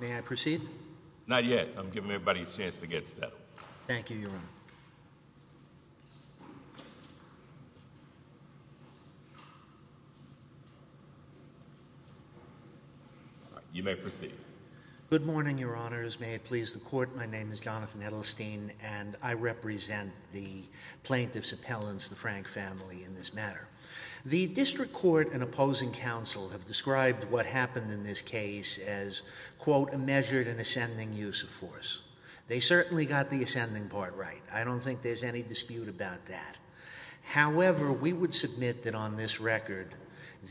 May I proceed? Not yet. I'm giving everybody a chance to get settled. Thank you, Your Honor. Good morning, Your Honors. May it please the Court, my name is Jonathan Edelstein, and I represent the plaintiff's appellants, the Frank family, in this matter. The District Court and opposing counsel have described what happened in this case as, quote, a measured and ascending use of force. They certainly got the ascending part right. I don't think there's any dispute about that. However, we would submit that on this record,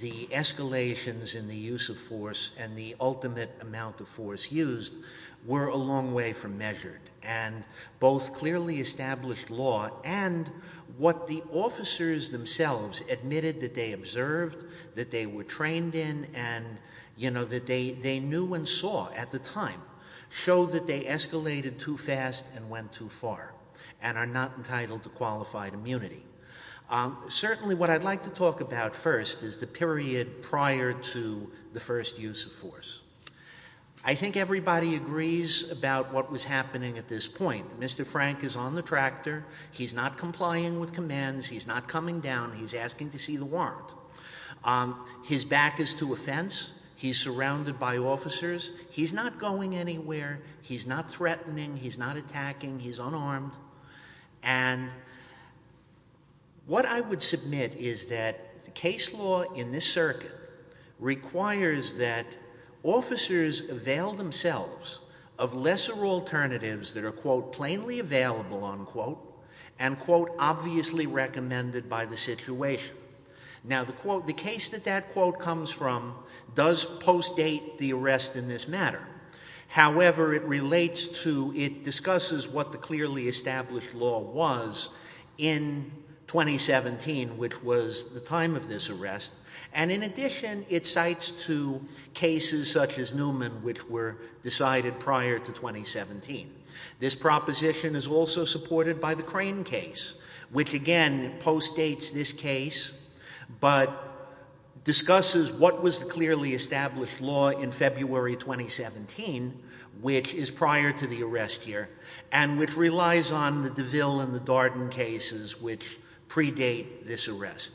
the escalations in the use of force and the ultimate amount of force used were a long way from measured. And both clearly established law and what the officers themselves admitted that they observed, that they were trained in, and, you know, that they knew and saw at the time, show that they escalated too fast and went too far, and are not entitled to qualified immunity. Certainly what I'd like to talk about first is the period prior to the first use of force. I think everybody agrees about what was happening at this point. Mr. Frank is on the tractor. He's not complying with commands. He's not coming down. He's asking to see the warrant. His back is to a fence. He's surrounded by officers. He's not going anywhere. He's not threatening. He's not attacking. He's unarmed. And what I would submit is that the case law in this circuit requires that officers avail themselves of lesser alternatives that are, quote, plainly available, unquote, and, quote, obviously recommended by the situation. Now the case that that quote comes from does post-date the arrest in this matter. However, it relates to, it discusses what the clearly established law was in 2017, which was the time of this arrest. And in addition, it cites to cases such as Newman, which were decided prior to 2017. This proposition is also supported by the Crane case, which again post-dates this case, but discusses what was the clearly established law in February 2017, which is prior to the arrest here, and which relies on the DeVille and the Darden cases which predate this arrest.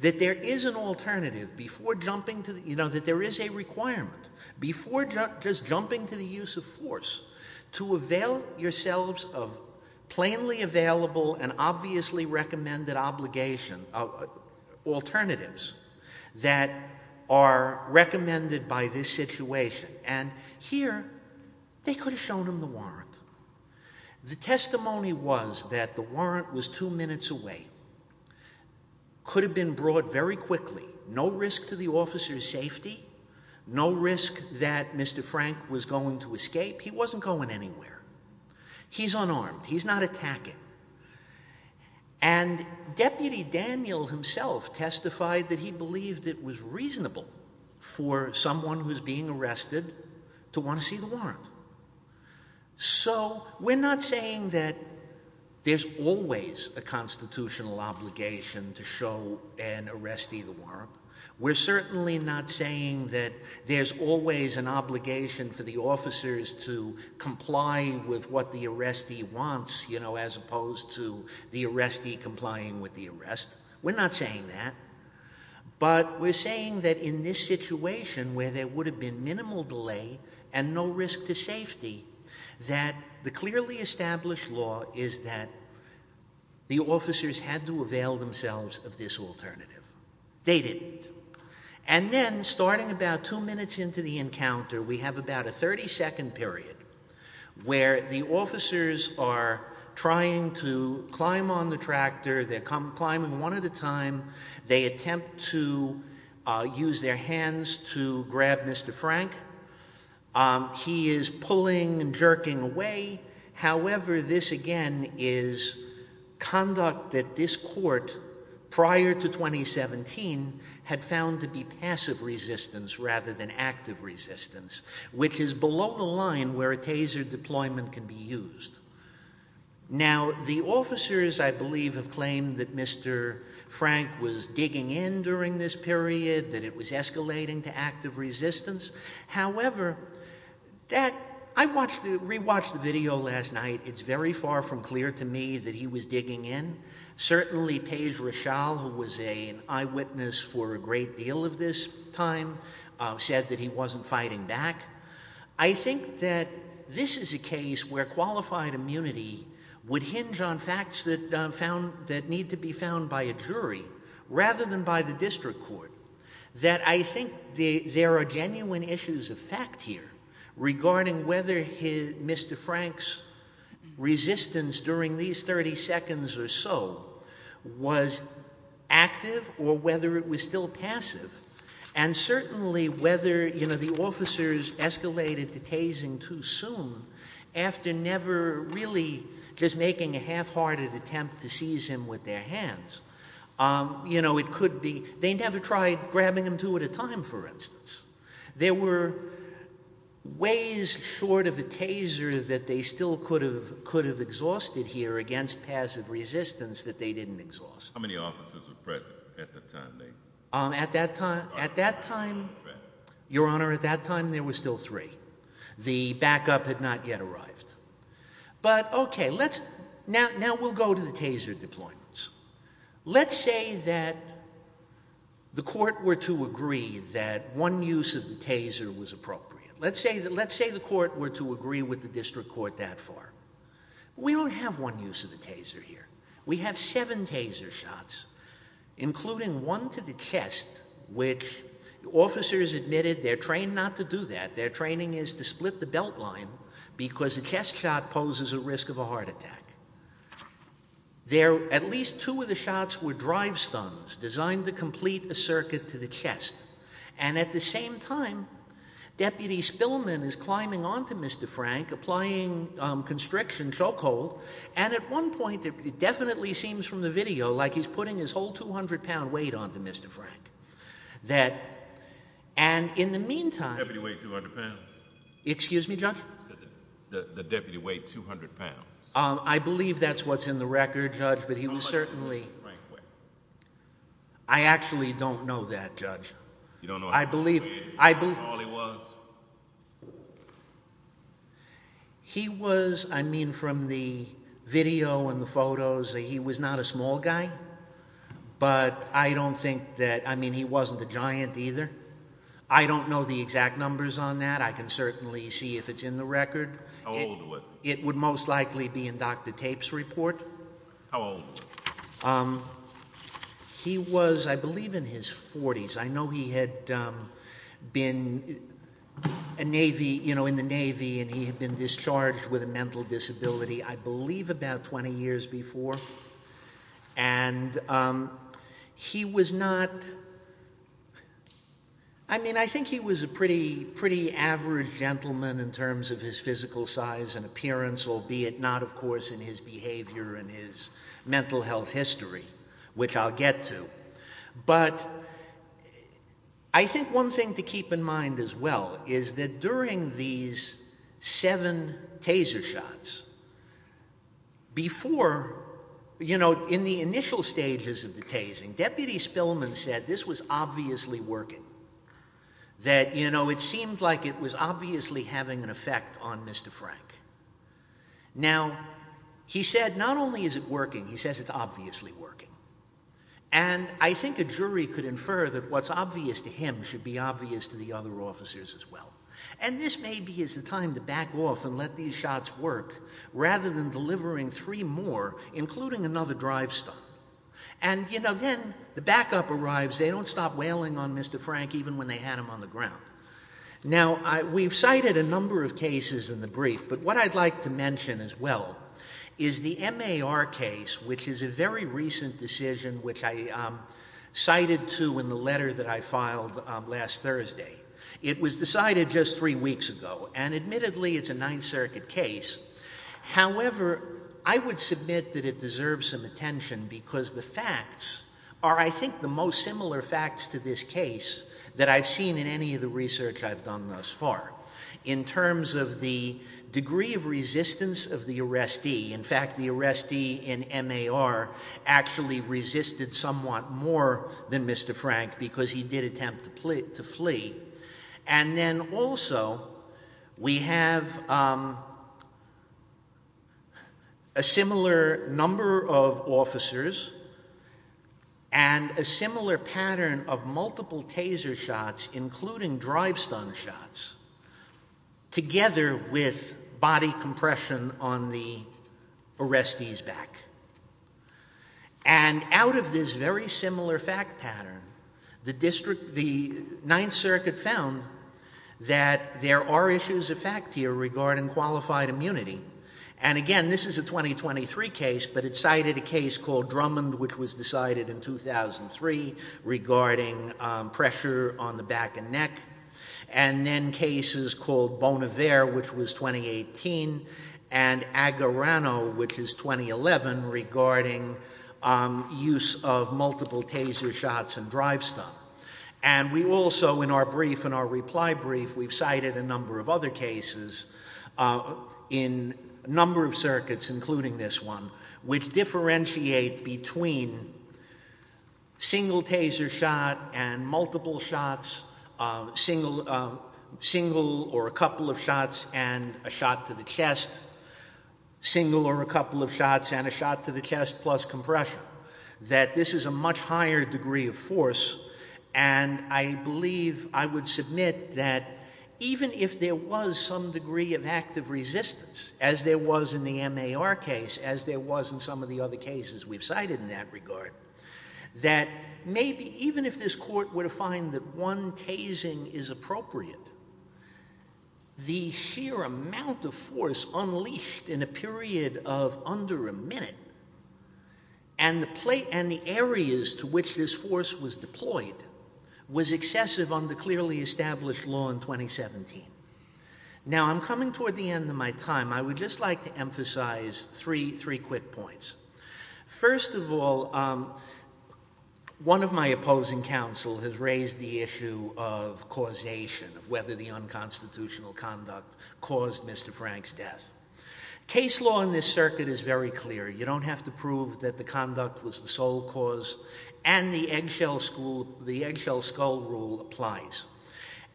That there is an alternative before jumping to, you know, that there is a requirement, before just jumping to the use of force, to avail yourselves of plainly available and obviously recommended obligation, alternatives, that are recommended by this situation. And here, they could have shown him the warrant. The testimony was that the warrant was two minutes away, could have been brought very quickly, no risk to the officer's safety, no risk that Mr. Frank was going to escape. He wasn't going anywhere. He's unarmed. He's not attacking. And Deputy Daniel himself testified that he believed it was reasonable for someone who's being arrested to want to see the warrant. So, we're not saying that there's always a constitutional obligation to show an arrestee the warrant. We're certainly not saying that there's always an obligation for the officers to comply with what the arrestee wants, you know, as opposed to the arrestee complying with the arrest. We're not saying that. But we're saying that in this situation, where there would have been minimal delay and no risk to safety, that the clearly established law is that the officers had to avail themselves of this alternative. They didn't. And then, starting about two minutes into the encounter, we have about a 30-second period where the officers are trying to climb on the tractor. They're climbing one at a time. They attempt to use their hands to grab Mr. Frank. He is pulling and jerking away. However, this, again, is conduct that this court would not have prior to 2017 had found to be passive resistance rather than active resistance, which is below the line where a taser deployment can be used. Now, the officers, I believe, have claimed that Mr. Frank was digging in during this period, that it was escalating to active resistance. However, I re-watched the video last night. It's very far from clear to me that he was a guy who was an eyewitness for a great deal of this time, said that he wasn't fighting back. I think that this is a case where qualified immunity would hinge on facts that need to be found by a jury rather than by the district court, that I think there are genuine issues of fact here regarding whether Mr. Frank's resistance during these 30 seconds or so was active or whether it was still passive, and certainly whether, you know, the officers escalated to tasing too soon after never really just making a half-hearted attempt to seize him with their hands. You know, it could be they never tried grabbing him two at a time, for instance. There were ways short of a taser that they still could have exhausted here against passive resistance that they didn't exhaust. How many officers were present at that time, Nate? At that time, Your Honor, at that time there were still three. The backup had not yet arrived. But okay, now we'll go to the taser deployments. Let's say that the court were to agree that one use of the taser was appropriate. Let's say the court were to agree with the district court that far. We don't have one use of the taser here. We have seven taser shots, including one to the chest, which officers admitted they're trained not to do that. Their training is to split the belt line because a chest shot poses a risk of a heart attack. There at least two of the shots were drive stuns designed to complete a circuit to the chest. And at the same time, Deputy Spillman is climbing onto Mr. Frank, applying constriction, chokehold. And at one point, it definitely seems from the video like he's putting his whole 200-pound weight onto Mr. Frank. And in the meantime— The deputy weighed 200 pounds. Excuse me, Judge? The deputy weighed 200 pounds. I believe that's what's in the record, Judge, but he was certainly— How much did Mr. Frank weigh? I actually don't know that, Judge. You don't know how much he weighed? I believe— How tall he was? He was—I mean, from the video and the photos, he was not a small guy, but I don't think that—I mean, he wasn't a giant either. I don't know the exact numbers on that. I can certainly see if it's in the record. How old was he? It would most likely be in Dr. Tape's report. How old was he? He was, I believe, in his 40s. I know he had been in the Navy, and he had been discharged with a mental disability, I believe, about 20 years before. And he was not—I mean, I think he was a pretty average gentleman in terms of his physical size and appearance, albeit not, of course, in his behavior and his mental health history, which I'll get to. But I think one thing to keep in mind as well is that during these seven taser shots, before—you know, in the initial stages of the tasing, Deputy Spillman said this was Now, he said not only is it working, he says it's obviously working. And I think a jury could infer that what's obvious to him should be obvious to the other officers as well. And this maybe is the time to back off and let these shots work rather than delivering three more, including another drive stop. And, you know, then the backup arrives. They don't stop wailing on Mr. Frank even when they had him on the ground. Now, we've cited a number of cases in the brief, but what I'd like to mention as well is the MAR case, which is a very recent decision which I cited to in the letter that I filed last Thursday. It was decided just three weeks ago, and admittedly, it's a Ninth Circuit case. However, I would submit that it deserves some attention because the facts are, I think, the most similar facts to this case that I've seen in any of the research I've done thus far, in terms of the degree of resistance of the arrestee. In fact, the arrestee in MAR actually resisted somewhat more than Mr. Frank because he did attempt to flee. And a similar pattern of multiple taser shots, including drive stun shots, together with body compression on the arrestee's back. And out of this very similar fact pattern, the district, the Ninth Circuit found that there are issues of fact here regarding qualified immunity. And again, this is a 2023 case, but it cited a case called Drummond, which was decided in 2003, regarding pressure on the back and neck. And then cases called Bonnevere, which was 2018, and Agarano, which is 2011, regarding use of multiple taser shots and drive stun. And we also, in our brief, in our reply brief, we've cited a number of other cases, including single taser shot and multiple shots, single or a couple of shots and a shot to the chest, single or a couple of shots and a shot to the chest plus compression. That this is a much higher degree of force, and I believe I would submit that even if there was some degree of active resistance, as there was in the MAR case, as there was in some of the other cases we've cited in that regard, that maybe even if this court were to find that one tasing is appropriate, the sheer amount of force unleashed in a period of under a minute, and the areas to which this force was deployed, was excessive under clearly established law in 2017. Now, I'm coming toward the end of my time. I would just like to emphasize three quick points. First of all, one of my opposing counsel has raised the issue of causation, of whether the unconstitutional conduct caused Mr. Frank's death. Case law in this circuit is very clear. You don't have to prove that the conduct was the sole cause, and the eggshell skull rule applies.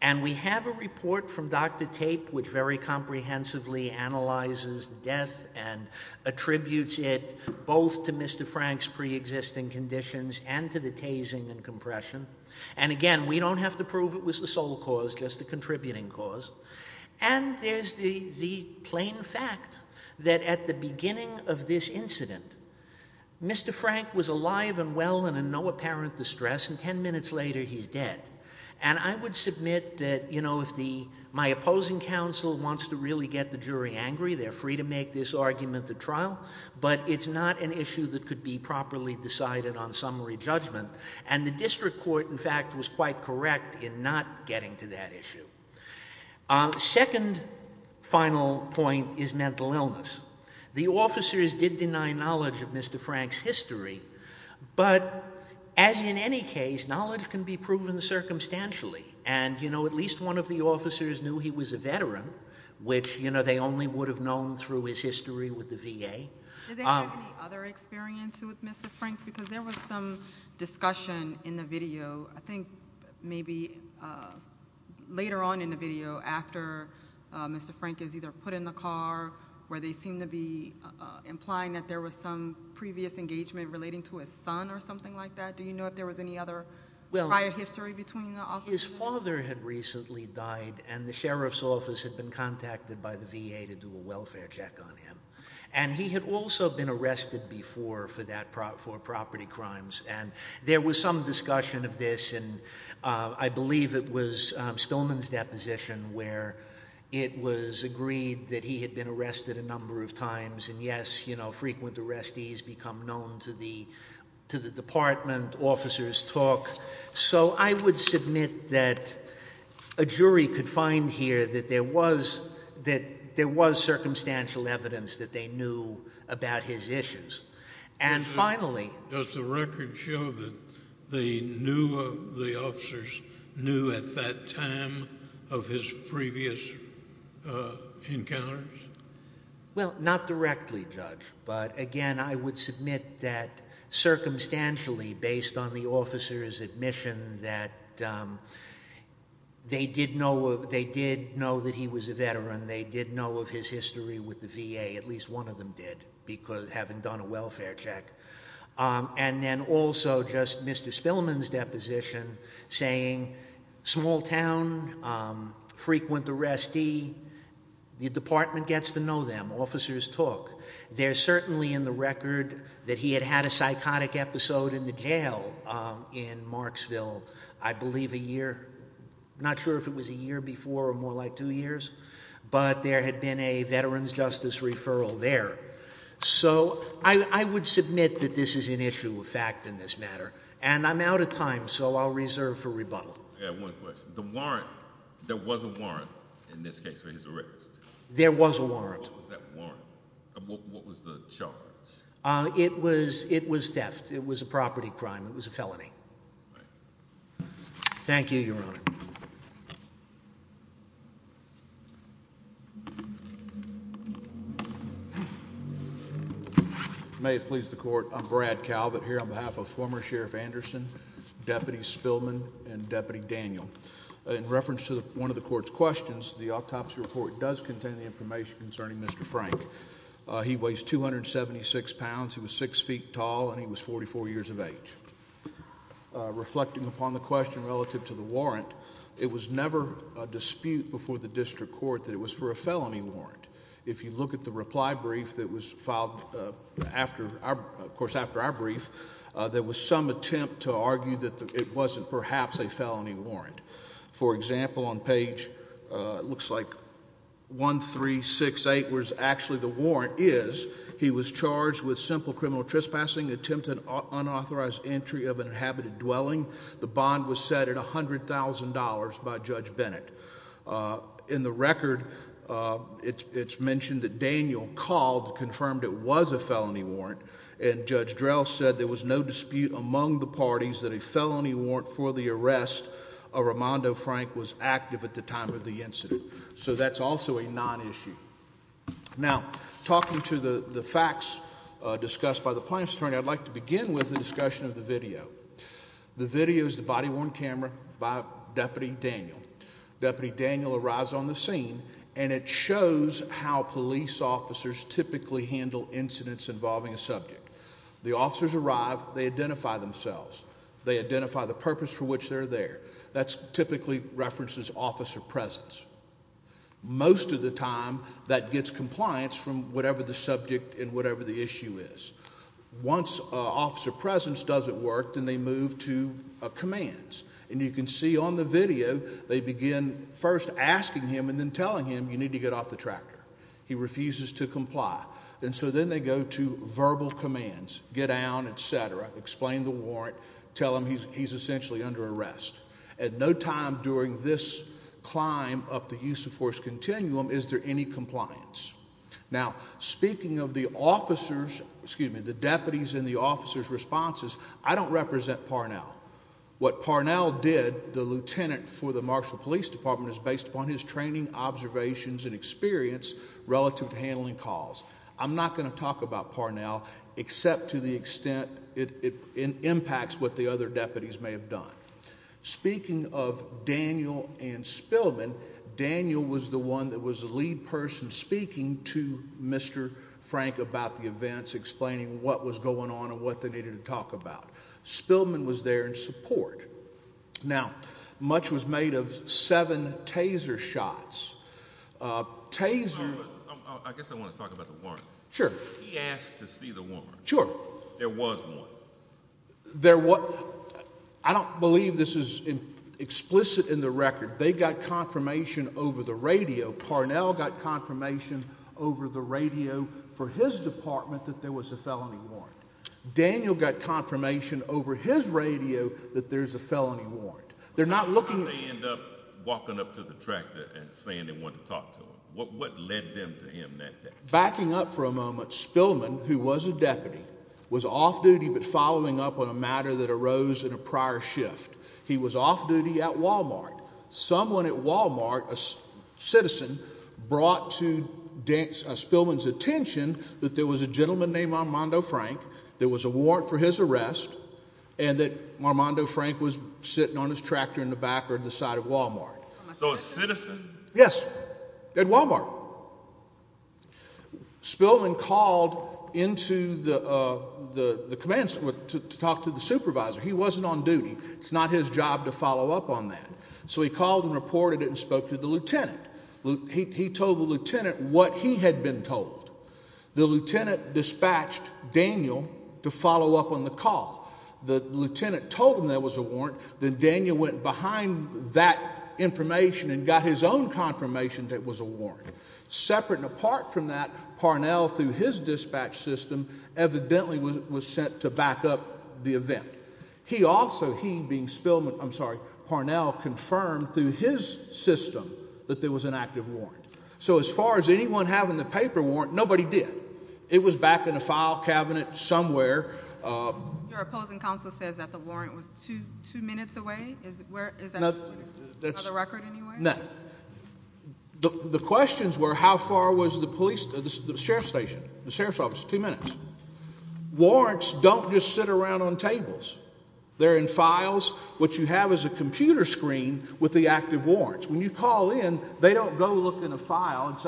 And we have a report from Dr. Fink that comprehensively analyzes death and attributes it both to Mr. Frank's pre-existing conditions and to the tasing and compression. And again, we don't have to prove it was the sole cause, just the contributing cause. And there's the plain fact that at the beginning of this incident, Mr. Frank was alive and well and in no apparent distress, and ten that, you know, if the, my opposing counsel wants to really get the jury angry, they're free to make this argument at trial, but it's not an issue that could be properly decided on summary judgment. And the district court, in fact, was quite correct in not getting to that issue. Second final point is mental illness. The officers did deny knowledge of Mr. Frank's history, but as in any case, knowledge can be proven circumstantially. And, you know, at least one of the officers knew he was a veteran, which, you know, they only would have known through his history with the VA. Did they have any other experience with Mr. Frank? Because there was some discussion in the video, I think maybe later on in the video after Mr. Frank is either put in the car where they seem to be implying that there was some previous engagement relating to his son or something like that. Do you know if there was any other prior history between the officers? His father had recently died, and the sheriff's office had been contacted by the VA to do a welfare check on him. And he had also been arrested before for that, for property crimes. And there was some discussion of this, and I believe it was Spillman's deposition where it was agreed that he had been arrested a number of times, and yes, you know, frequent arrestees become known to the department, officers talk. So I would submit that a jury could find here that there was circumstantial evidence that they knew about his issues. And finally... Does the record show that they knew, the officers knew at that time of his previous encounters? Well, not directly, Judge. But again, I would submit that circumstantially, based on the officers' admission that they did know that he was a veteran, they did know of his history with the VA, at least one of them did, because having done a welfare check. And then also just Mr. Spillman's deposition saying, small town, frequent arrestee, the department gets to know them, officers talk. There's certainly in the record that he had had a psychotic episode in the jail in Marksville, I believe a year, not sure if it was a year before or more like two years, but there had been a veteran's justice referral there. So I would submit that this is an issue of fact in this matter. And I'm out of time, so I'll reserve for rebuttal. Yeah, one question. The warrant, there was a warrant in this case for his arrest. There was a warrant. What was that warrant? What was the charge? It was theft. It was a property crime. It was a felony. Right. Thank you, Your Honor. May it please the court, I'm Brad Calvert here on behalf of former Sheriff Anderson, Deputy Spillman, and Deputy Daniel. In reference to one of the court's questions, the autopsy report does contain the information concerning Mr. Frank. He weighs 276 pounds, he was 6 feet tall, and he was 44 years of age. Reflecting upon the question relative to the warrant, it was never a dispute before the district court that it was for a felony warrant. If you look at the reply brief that was filed after, of course after our brief, there was some attempt to argue that it wasn't perhaps a felony warrant. For example, on page, it looks like 1368 was actually the warrant is he was charged with simple criminal trespassing, attempted unauthorized entry of an inhabited dwelling. The bond was set at $100,000 by Judge Bennett. In the record, it's mentioned that Daniel called, confirmed it was a felony warrant, and Judge Drell said there was no dispute among the parties that a felony warrant for the arrest of Armando Frank was active at the time of the incident. So that's also a non-issue. Now, talking to the facts discussed by the plaintiff's attorney, I'd like to begin with the discussion of the video. The video is the body-worn camera by Deputy Daniel. Deputy Daniel arrives on the scene, and it shows how police officers typically handle incidents involving a subject. The officers arrive, they identify themselves. They identify the purpose for which they're there. That typically references officer presence. Most of the time that gets compliance from whatever the subject and whatever the issue is. Once officer presence doesn't work, then they move to commands. And you can see on the video, they begin first asking him and then telling him, you need to get off the tractor. He refuses to comply. And so then they go to verbal commands, get down, et cetera, explain the warrant, tell him he's essentially under arrest. At no time during this climb up the use of force continuum is there any compliance. Now, speaking of the officers, excuse me, the deputies and the officers' responses, I don't represent Parnell. What Parnell did, the lieutenant for the Marshall Police Department, is based upon his training, observations, and experience relative to handling calls. I'm not going to talk about Parnell, except to the extent it impacts what the other deputies may have done. Speaking of Daniel and Spillman, Daniel was the one that was the lead person speaking to Mr. Frank about the events, explaining what was going on and what they needed to talk about. Spillman was there in support. Now, much was made of seven taser shots. Taser... I guess I want to talk about the warrant. Sure. He asked to see the warrant. Sure. There was one. There was... I don't believe this is explicit in the record. They got confirmation over the radio. Parnell got confirmation over the radio for his department that there was a felony warrant. Daniel got confirmation over his radio that there's a felony warrant. They're not looking... How did they end up walking up to the tractor and saying they wanted to talk to him? What led them to him that day? Backing up for a moment, Spillman, who was a deputy, was off duty but following up on a matter that arose in a prior shift. He was off duty at Wal-Mart. Someone at Wal-Mart, a citizen, brought to Spillman's attention that there was a gentleman named Armando Frank, there was a warrant for his arrest, and that Armando Frank was sitting on his tractor in the back or the side of Wal-Mart. So a citizen? Yes. At Wal-Mart. Spillman called into the command center to talk to the supervisor. He wasn't on duty. It's not his job to follow up on that. So he called and reported it and spoke to the lieutenant. He told the lieutenant what he had been told. The lieutenant dispatched Daniel to follow up on the call. The lieutenant told him there was a warrant. Then Daniel went behind that information and got his own confirmation that it was a warrant. Separate and apart from that, Parnell, through his dispatch system, evidently was sent to back up the event. He also, he being Spillman, I'm sorry, Parnell, confirmed through his system that there was an active warrant. So as far as anyone having the paper warrant, nobody did. It was back in the file cabinet somewhere. Your opposing counsel says that the warrant was two minutes away. Is that the record anyway? No. The questions were how far was the police, the sheriff's station, the sheriff's office, two minutes. Warrants don't just sit around on tables. They're in files. What you have is a computer screen with the active warrants. When you call in, they don't go look in a file.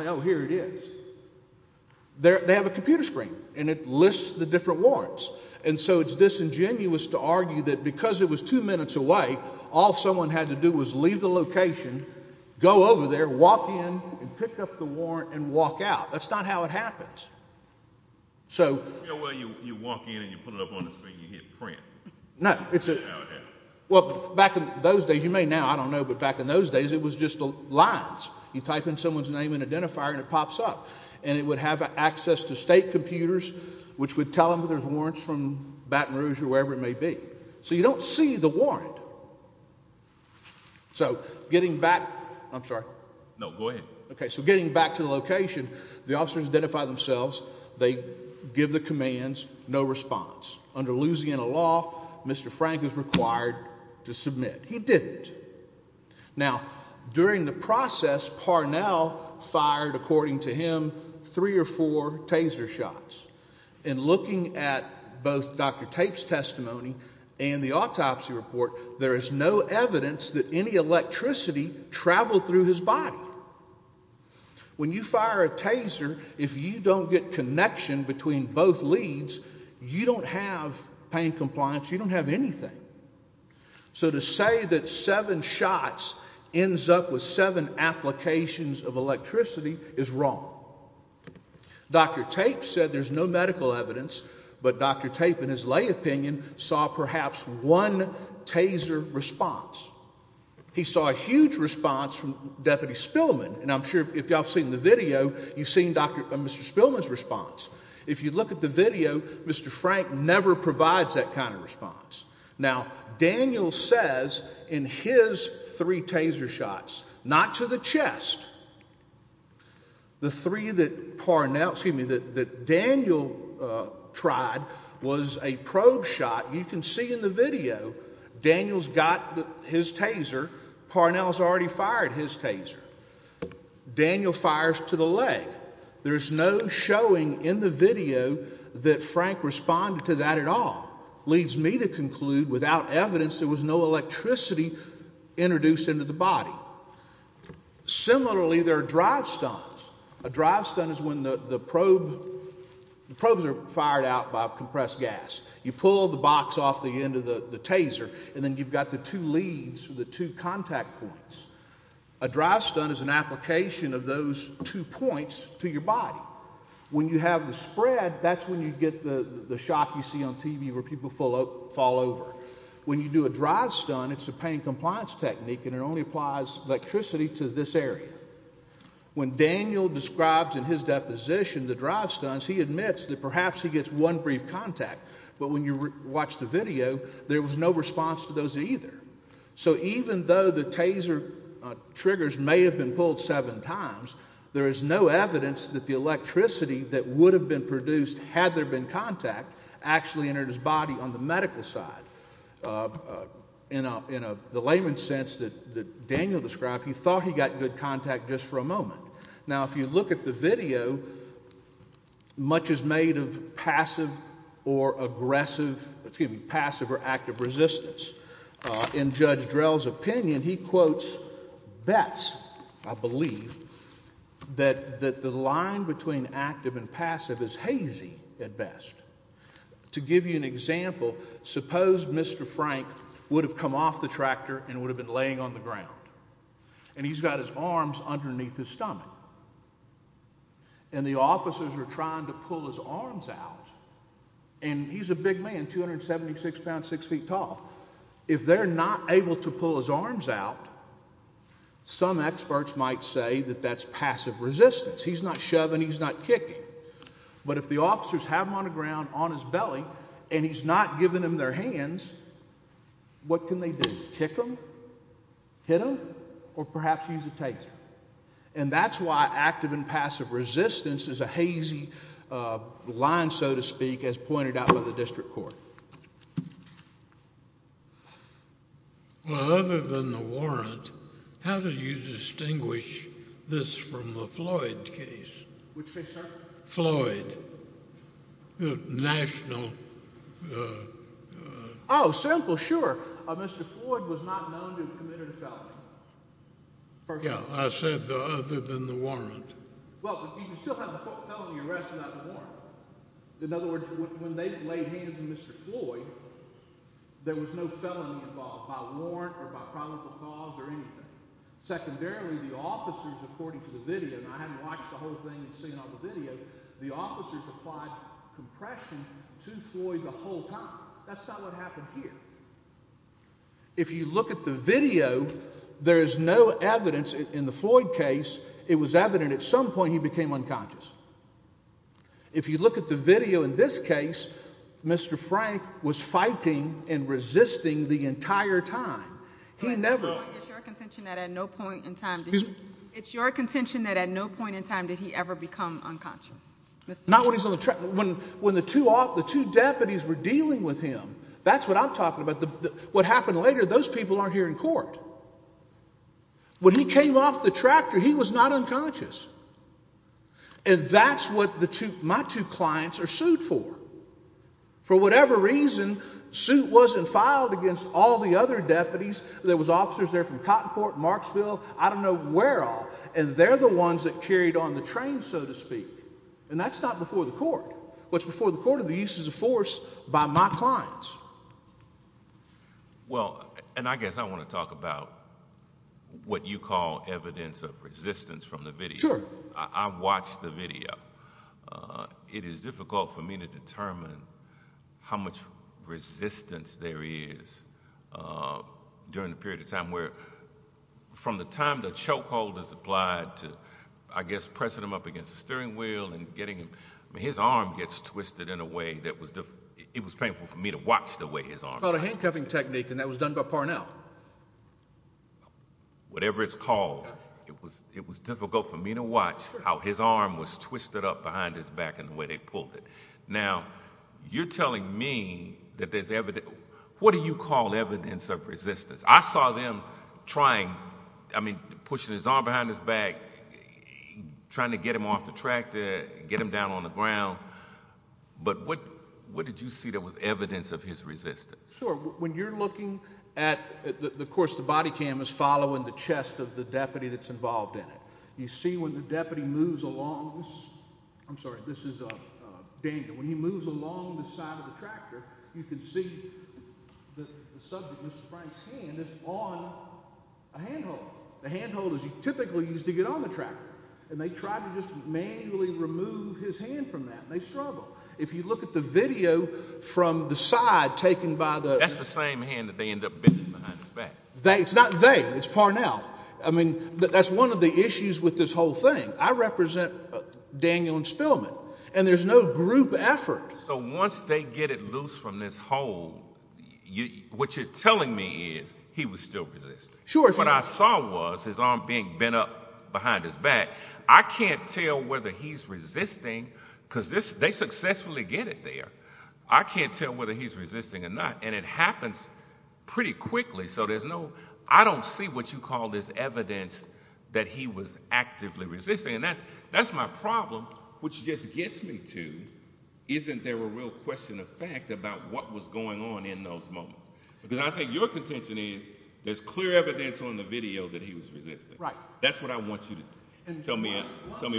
So it's disingenuous to argue that because it was two minutes away, all someone had to do was leave the location, go over there, walk in and pick up the warrant and walk out. That's not how it happens. Well, you walk in and you put it up on the screen and you hit print. No. Well, back in those days, you may now, I don't know, but back in those days, it was just lines. You type in someone's name and identifier and it pops up. It would have access to state computers, which would tell them there's warrants from Baton Rouge or wherever it may be. So you don't see the warrant. So getting back, I'm sorry. No, go ahead. Okay, so getting back to the location, the officers identify themselves. They give the commands, no response. Under Louisiana law, Mr. Frank is required to submit. He didn't. Now, during the process, Parnell fired, according to him, three or four taser shots. And looking at both Dr. Tape's testimony and the autopsy report, there is no evidence that any electricity traveled through his body. When you fire a taser, if you don't get connection between both leads, you don't have pain compliance, you don't have anything. So to say that seven shots ends up with seven applications of electricity is wrong. Dr. Tape said there's no medical evidence, but Dr. Tape, in his lay opinion, saw perhaps one taser response. He saw a huge response from Deputy Spillman, and I'm sure if y'all have seen the video, you've seen Mr. Spillman's response. If you look at the video, Mr. Frank never provides that kind of response. Now, Daniel says in his three taser shots, not to the chest, the three that Daniel tried was a probe shot. You can see in the video, Daniel's got his taser, Parnell's already fired his taser. Daniel fires to the leg. There's no showing in the video that Frank responded to that at all. Leads me to conclude without evidence there was no electricity introduced into the body. Similarly, there are drive stuns. A drive stun is when the probe, the probes are fired out by compressed gas. You pull the box off the end of the taser, and then you've got the two leads, the two contact points. A drive stun is an application of those two points to your body. When you have the spread, that's when you get the shock you see on TV where people fall over. When you do a drive stun, it's a pain compliance technique, and it only applies electricity to this area. When Daniel describes in his deposition the drive stuns, he admits that perhaps he gets one brief contact, but when you watch the So even though the taser triggers may have been pulled seven times, there is no evidence that the electricity that would have been produced had there been contact actually entered his body on the medical side. In the layman's sense that Daniel described, he thought he got good contact just for a moment. Now if you look at the video, much is made of passive or aggressive, excuse me, passive or active resistance. In Judge Drell's opinion, he quotes bets, I believe, that the line between active and passive is hazy at best. To give you an example, suppose Mr. Frank would have come off the tractor and would have been laying on the ground, and he's got his arms underneath his stomach, and the officers are trying to And he's a big man, 276 pounds, 6 feet tall. If they're not able to pull his arms out, some experts might say that that's passive resistance. He's not shoving, he's not kicking. But if the officers have him on the ground on his belly, and he's not giving them their hands, what can they do? Kick him? Hit him? Or perhaps use a taser? And that's why active and passive resistance is a hazy line, so to speak, as pointed out by the district court. Well, other than the warrant, how do you distinguish this from the Floyd case? Which case, sir? Floyd. The national... Oh, simple, sure. Mr. Floyd was not known to have committed a felony. Yeah, I said other than the warrant. Well, you can still have a felony arrest without the warrant. In other words, when they laid hands on Mr. Floyd, there was no felony involved by warrant or by probable cause or anything. Secondarily, the officers, according to the video, and I hadn't watched the whole thing and seen all the video, the officers applied compression to Floyd the whole time. That's not what happened here. If you look at the video, there is no evidence in the Floyd case, it was evident at some point he became unconscious. If you look at the video in this case, Mr. Frank was fighting and resisting the entire time. He never... It's your contention that at no point in time did he ever become unconscious? When the two deputies were dealing with him, that's what I'm talking about. What happened later, those people aren't here in court. When he came off the tractor, he was not unconscious. And that's what my two clients are sued for. For whatever reason, suit wasn't filed against all the other deputies. There was officers there from Cottonport, Marksville, I don't know where all. And they're the ones that carried on the train, so to speak. And that's not before the court. What's before the court are the uses of force by my clients. Well, and I guess I want to talk about what you call evidence of resistance from the video. Sure. I watched the video. It is difficult for me to determine how much resistance there is during the period of time where, from the time the choke hold is applied to, I guess, pressing him up against the steering wheel and getting him... I mean, his arm gets twisted in a way that was... It was painful for me to watch the way his arm was twisted. Well, the handcuffing technique, and that was done by Parnell. Whatever it's called, it was difficult for me to watch how his arm was twisted up behind his back and the way they pulled it. Now, you're telling me that there's evidence... What do you call evidence of resistance? I saw them trying, I mean, pushing his arm behind his back, trying to get him off the tractor, get him down on the ground. But what did you see that was evidence of his resistance? Sure. When you're looking at... Of course, the body cam is following the chest of the deputy that's involved in it. You see when the deputy moves along... I'm sorry, this is Daniel. When he moves along the side of the tractor, you can see the subject, Mr. Frank's hand, is on a handhold. The handhold is typically used to get on the tractor, and they tried to just manually remove his hand from that, and they struggle. If you look at the video from the side taken by the... That's the same hand that they end up beating behind his back. It's not they. It's Parnell. I mean, that's one of the issues with this whole thing. I represent Daniel and Spillman, and there's no group effort. So once they get it loose from this hole, what you're telling me is he was still resisting. Sure. What I saw was his arm being bent up behind his back. I can't tell whether he's resisting because they successfully get it there. I can't tell whether he's resisting or not, and it happens pretty quickly, so there's no... There's evidence that he was actively resisting, and that's my problem, which just gets me to, isn't there a real question of fact about what was going on in those moments? Because I think your contention is there's clear evidence on the video that he was resisting. Right. That's what I want you to tell me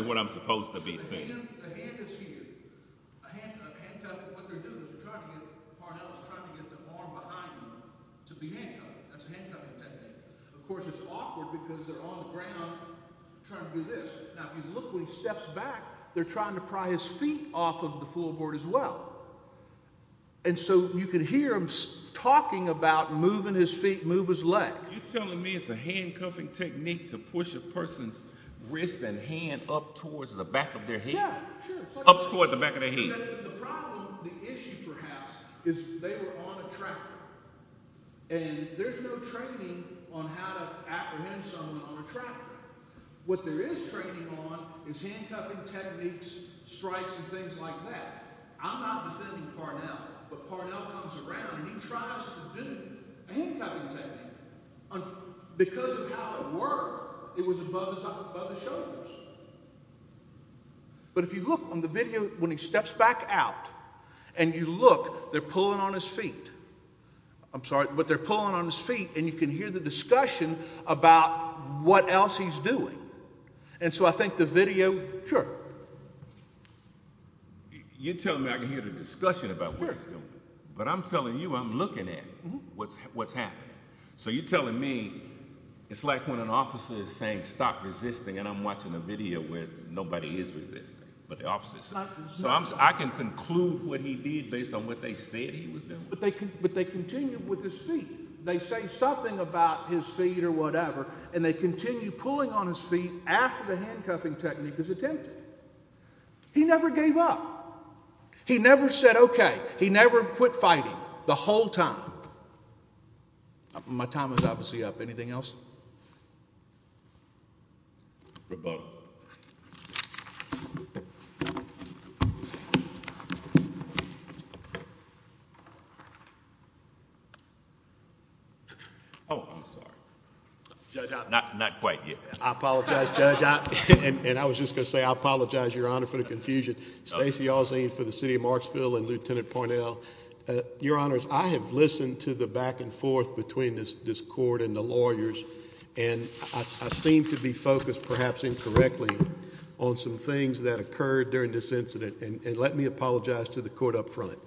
what I'm supposed to be saying. The hand is here. A handcuff. What they're doing is Parnell is trying to get the arm behind him to be handcuffed. That's a handcuff technique. Of course, it's awkward because they're on the ground trying to do this. Now, if you look when he steps back, they're trying to pry his feet off of the floorboard as well. And so you can hear him talking about moving his feet, move his leg. You're telling me it's a handcuffing technique to push a person's wrist and hand up towards the back of their head. Yeah, sure. Up towards the back of their head. The problem, the issue perhaps, is they were on a tractor. And there's no training on how to apprehend someone on a tractor. What there is training on is handcuffing techniques, strikes and things like that. I'm not defending Parnell, but Parnell comes around and he tries to do a handcuffing technique. Because of how it worked, it was above his shoulders. But if you look on the video when he steps back out and you look, they're pulling on his feet. I'm sorry, but they're pulling on his feet and you can hear the discussion about what else he's doing. And so I think the video, sure. You're telling me I can hear the discussion about where it's going. But I'm telling you, I'm looking at what's happening. So you're telling me it's like when an officer is saying, stop resisting. And I'm watching a video where nobody is resisting, but the officer is. So I can conclude what he did based on what they said he was doing. But they continue with his feet. They say something about his feet or whatever, and they continue pulling on his feet after the handcuffing technique is attempted. He never gave up. He never said, okay. He never quit fighting the whole time. My time is obviously up. Anything else? Rebuttal. Oh, I'm sorry. Judge Ott. Not quite yet. I apologize, Judge Ott. And I was just going to say I apologize, Your Honor, for the confusion. Stacey Allzean for the City of Marksville and Lieutenant Poynell. Your Honors, I have listened to the back and forth between this court and the lawyers, and I seem to be focused perhaps incorrectly on some things that occurred during this incident. And let me apologize to the court up front.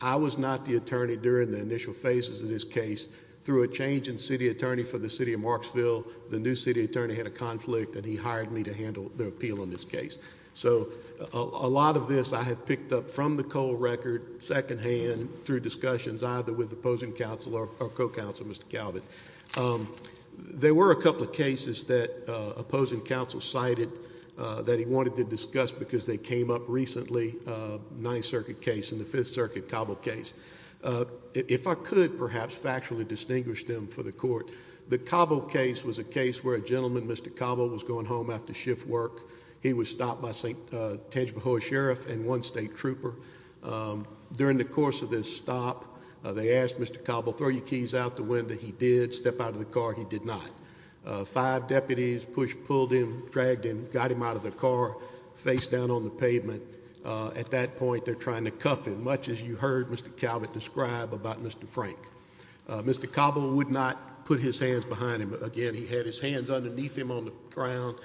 I was not the attorney during the initial phases of this case. Through a change in city attorney for the City of Marksville, the new city attorney had a conflict, and he hired me to handle the appeal on this case. So a lot of this I have picked up from the Cole record secondhand through discussions, either with opposing counsel or co-counsel, Mr. Calvin. There were a couple of cases that opposing counsel cited that he wanted to discuss because they came up recently, a Ninth Circuit case and the Fifth Circuit Cabo case. If I could perhaps factually distinguish them for the court, the Cabo case was a case where a gentleman, Mr. Cabo, was going home after shift work. He was stopped by St. Tangibahoa Sheriff and one state trooper. During the course of this stop, they asked Mr. Cabo, throw your keys out the window. He did. Step out of the car. He did not. Five deputies pushed, pulled him, dragged him, got him out of the car, face down on the pavement. At that point, they're trying to cuff him, much as you heard Mr. Calvin describe about Mr. Frank. Mr. Cabo would not put his hands behind him. Again, he had his hands underneath him on the ground.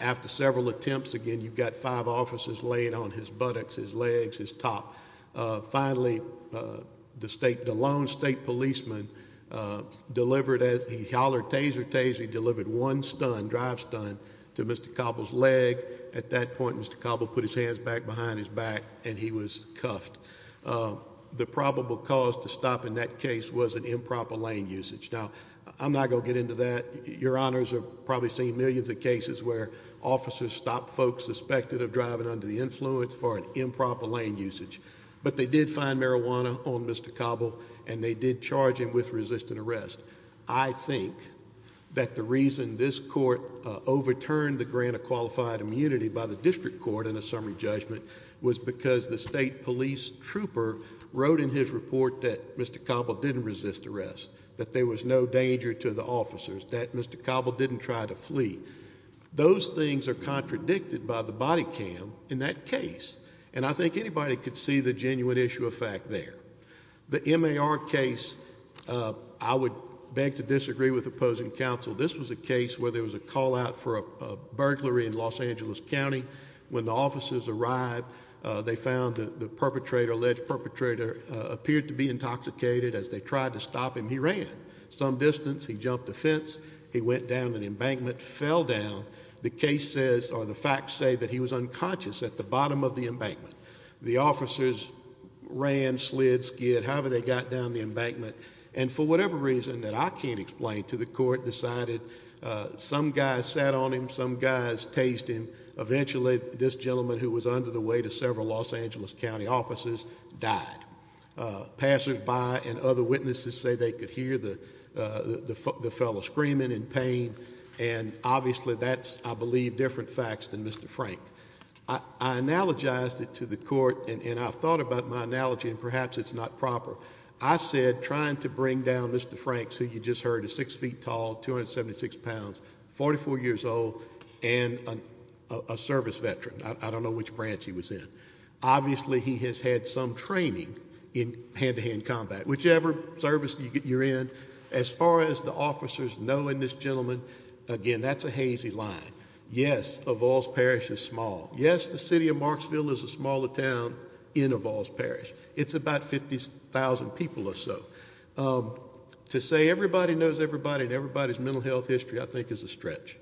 After several attempts, again, you've got five officers laying on his buttocks, his legs, his top. Finally, the lone state policeman delivered as he hollered taser, taser, he delivered one stun, drive stun to Mr. Cabo's leg. At that point, Mr. Cabo put his hands back behind his back and he was cuffed. The probable cause to stop in that case was an improper lane usage. Now, I'm not going to get into that. Your honors have probably seen millions of cases where officers stop folks suspected of driving under the influence for an improper lane usage. But they did find marijuana on Mr. Cabo and they did charge him with resisting arrest. I think that the reason this court overturned the grant of qualified immunity by the district court in a summary judgment was because the state police trooper wrote in his report that Mr. Cabo didn't resist arrest, that there was no danger to the officers, that Mr. Cabo didn't try to flee. Those things are contradicted by the body cam in that case. And I think anybody could see the genuine issue of fact there. The MAR case, I would beg to disagree with opposing counsel. This was a case where there was a call out for a burglary in Los Angeles County. When the officers arrived, they found the perpetrator, alleged perpetrator, appeared to be intoxicated. As they tried to stop him, he ran. Some distance, he jumped a fence. He went down an embankment, fell down. The case says or the facts say that he was unconscious at the bottom of the embankment. The officers ran, slid, skid, however they got down the embankment, and for whatever reason that I can't explain to the court decided some guys sat on him, some guys tased him. Eventually, this gentleman who was under the weight of several Los Angeles County officers died. Passersby and other witnesses say they could hear the fellow screaming in pain, and obviously that's, I believe, different facts than Mr. Frank. I analogized it to the court, and I thought about my analogy, and perhaps it's not proper. I said trying to bring down Mr. Frank, who you just heard is 6 feet tall, 276 pounds, 44 years old, and a service veteran. I don't know which branch he was in. Obviously, he has had some training in hand-to-hand combat. Whichever service you're in, as far as the officers knowing this gentleman, again, that's a hazy line. Yes, Evalds Parish is small. Yes, the city of Marksville is a smaller town in Evalds Parish. It's about 50,000 people or so. To say everybody knows everybody and everybody's mental health history, I think, is a stretch.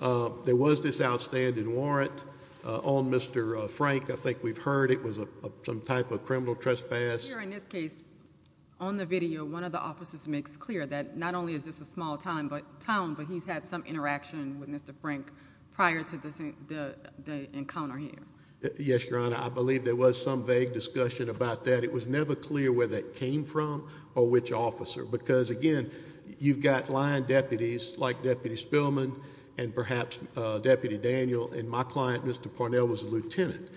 There was this outstanding warrant on Mr. Frank. I think we've heard it was some type of criminal trespass. Here in this case, on the video, one of the officers makes clear that not only is this a small town, but he's had some interaction with Mr. Frank prior to the encounter here. Yes, Your Honor, I believe there was some vague discussion about that. It was never clear where that came from or which officer. Because, again, you've got line deputies like Deputy Spillman and perhaps Deputy Daniel, and my client, Mr. Parnell, was a lieutenant.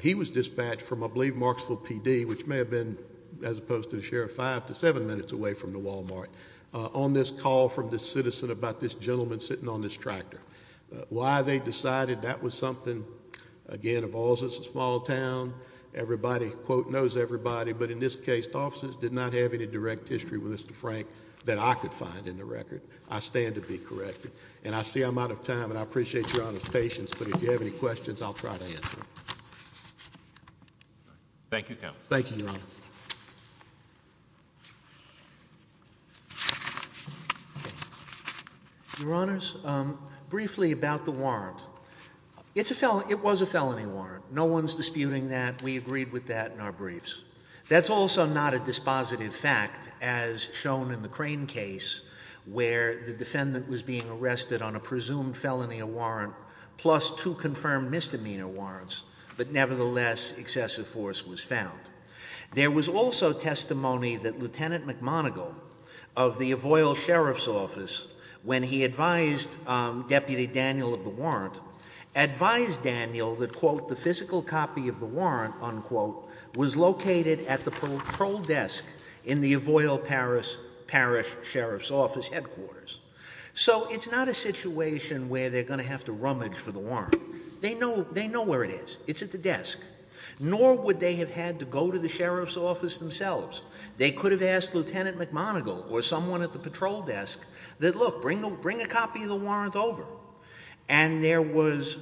He was dispatched from, I believe, Marksville, P.D., which may have been, as opposed to the sheriff, five to seven minutes away from the Walmart, on this call from this citizen about this gentleman sitting on this tractor. Why they decided that was something, again, of all, it's a small town. Everybody, quote, knows everybody. But in this case, the officers did not have any direct history with Mr. Frank that I could find in the record. I stand to be corrected. And I see I'm out of time, and I appreciate Your Honor's patience. But if you have any questions, I'll try to answer them. Thank you, Counsel. Thank you, Your Honor. Thank you. Your Honors, briefly about the warrant. It was a felony warrant. No one's disputing that. We agreed with that in our briefs. That's also not a dispositive fact, as shown in the Crane case, where the defendant was being arrested on a presumed felony warrant plus two confirmed misdemeanor warrants, but nevertheless excessive force was found. There was also testimony that Lieutenant McMoneagle of the Avoyal Sheriff's Office, when he advised Deputy Daniel of the warrant, advised Daniel that, quote, the physical copy of the warrant, unquote, was located at the patrol desk in the Avoyal Parish Sheriff's Office headquarters. So it's not a situation where they're going to have to rummage for the warrant. They know where it is. It's at the desk. Nor would they have had to go to the sheriff's office themselves. They could have asked Lieutenant McMoneagle or someone at the patrol desk that, look, bring a copy of the warrant over. And there was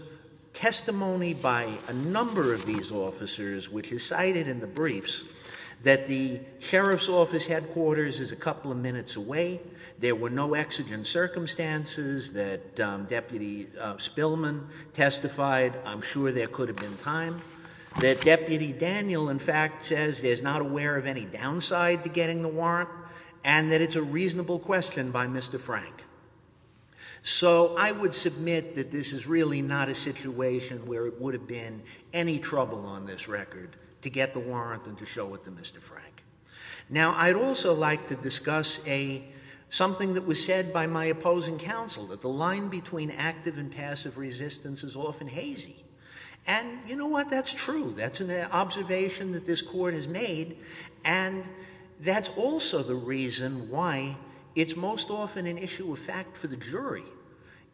testimony by a number of these officers, which is cited in the briefs, that the sheriff's office headquarters is a couple of minutes away. There were no exigent circumstances that Deputy Spillman testified. I'm sure there could have been time. That Deputy Daniel, in fact, says there's not aware of any downside to getting the warrant, and that it's a reasonable question by Mr. Frank. So I would submit that this is really not a situation where it would have been any trouble on this record to get the warrant and to show it to Mr. Frank. Now, I'd also like to discuss something that was said by my opposing counsel, that the line between active and passive resistance is often hazy. And you know what? That's true. That's an observation that this Court has made, and that's also the reason why it's most often an issue of fact for the jury.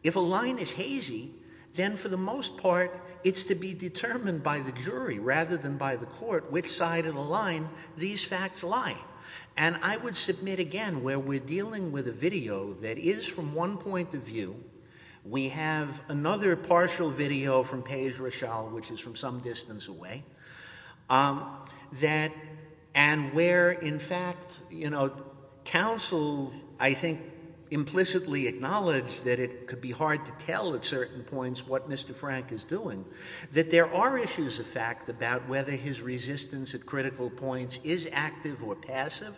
If a line is hazy, then for the most part it's to be determined by the jury rather than by the court which side of the line these facts lie. And I would submit again, where we're dealing with a video that is from one point of view, we have another partial video from Paige Rochelle, which is from some distance away, and where in fact, you know, counsel, I think, implicitly acknowledged that it could be hard to tell at certain points what Mr. Frank is doing, that there are issues of fact about whether his resistance at critical points is active or passive,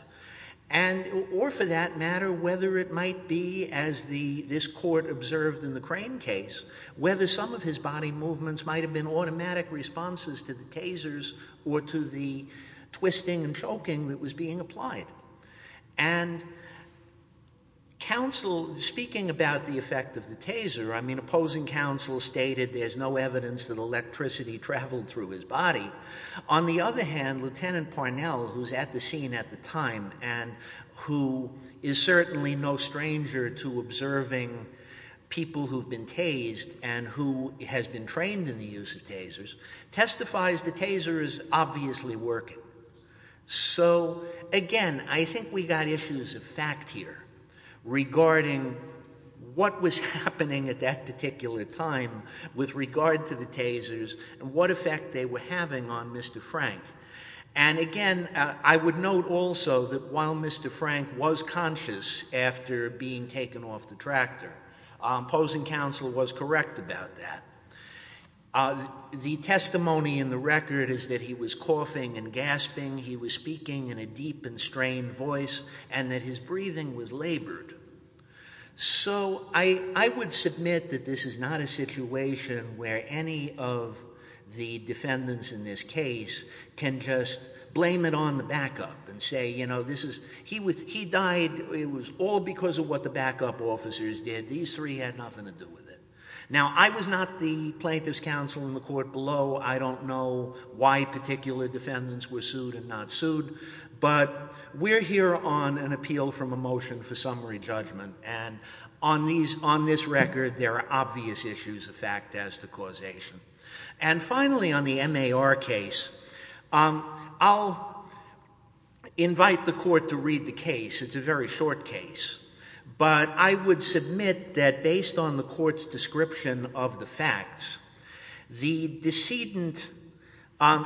or for that matter, whether it might be, as this Court observed in the Crane case, whether some of his body movements might have been automatic responses to the tasers or to the twisting and choking that was being applied. And speaking about the effect of the taser, I mean, opposing counsel stated there's no evidence that electricity traveled through his body. On the other hand, Lieutenant Parnell, who's at the scene at the time, and who is certainly no stranger to observing people who've been tased and who has been trained in the use of tasers, testifies the taser is obviously working. So again, I think we've got issues of fact here regarding what was happening at that particular time with regard to the tasers and what effect they were having on Mr. Frank. And again, I would note also that while Mr. Frank was conscious after being taken off the tractor, opposing counsel was correct about that. The testimony in the record is that he was coughing and gasping, he was speaking in a deep and strained voice, and that his breathing was labored. So I would submit that this is not a situation where any of the defendants in this case can just blame it on the backup and say, you know, he died, it was all because of what the backup officers did. These three had nothing to do with it. Now, I was not the plaintiff's counsel in the court below. I don't know why particular defendants were sued and not sued. But we're here on an appeal from a motion for summary judgment, and on this record there are obvious issues of fact as to causation. And finally, on the MAR case, I'll invite the court to read the case. It's a very short case. But I would submit that based on the court's description of the facts, the decedent,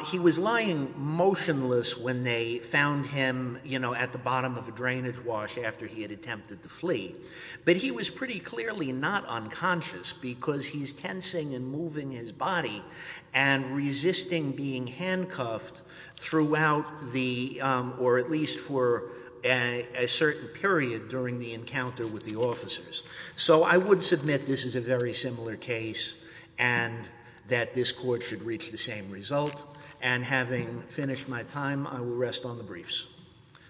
he was lying motionless when they found him, you know, at the bottom of a drainage wash after he had attempted to flee. But he was pretty clearly not unconscious because he's tensing and moving his body and resisting being handcuffed throughout the, or at least for a certain period during the encounter with the officers. So I would submit this is a very similar case and that this court should reach the same result. And having finished my time, I will rest on the briefs.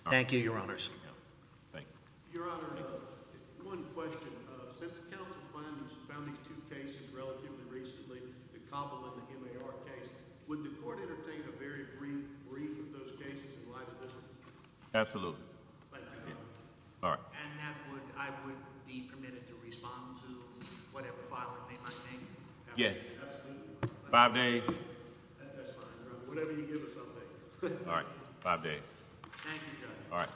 Thank you, Your Honors. Your Honor, one question. Since counsel found these two cases relatively recently, the Cobble and the MAR case, would the court entertain a very brief brief of those cases in light of this one? Absolutely. And I would be permitted to respond to whatever filing they might make? Yes. Five days. That's fine, Your Honor. Whatever you give us, I'll take it. All right. Five days. Thank you, Judge. All right.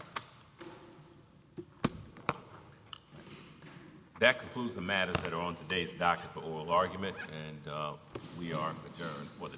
That concludes the matters that are on today's docket for oral arguments, and we are adjourned for the day.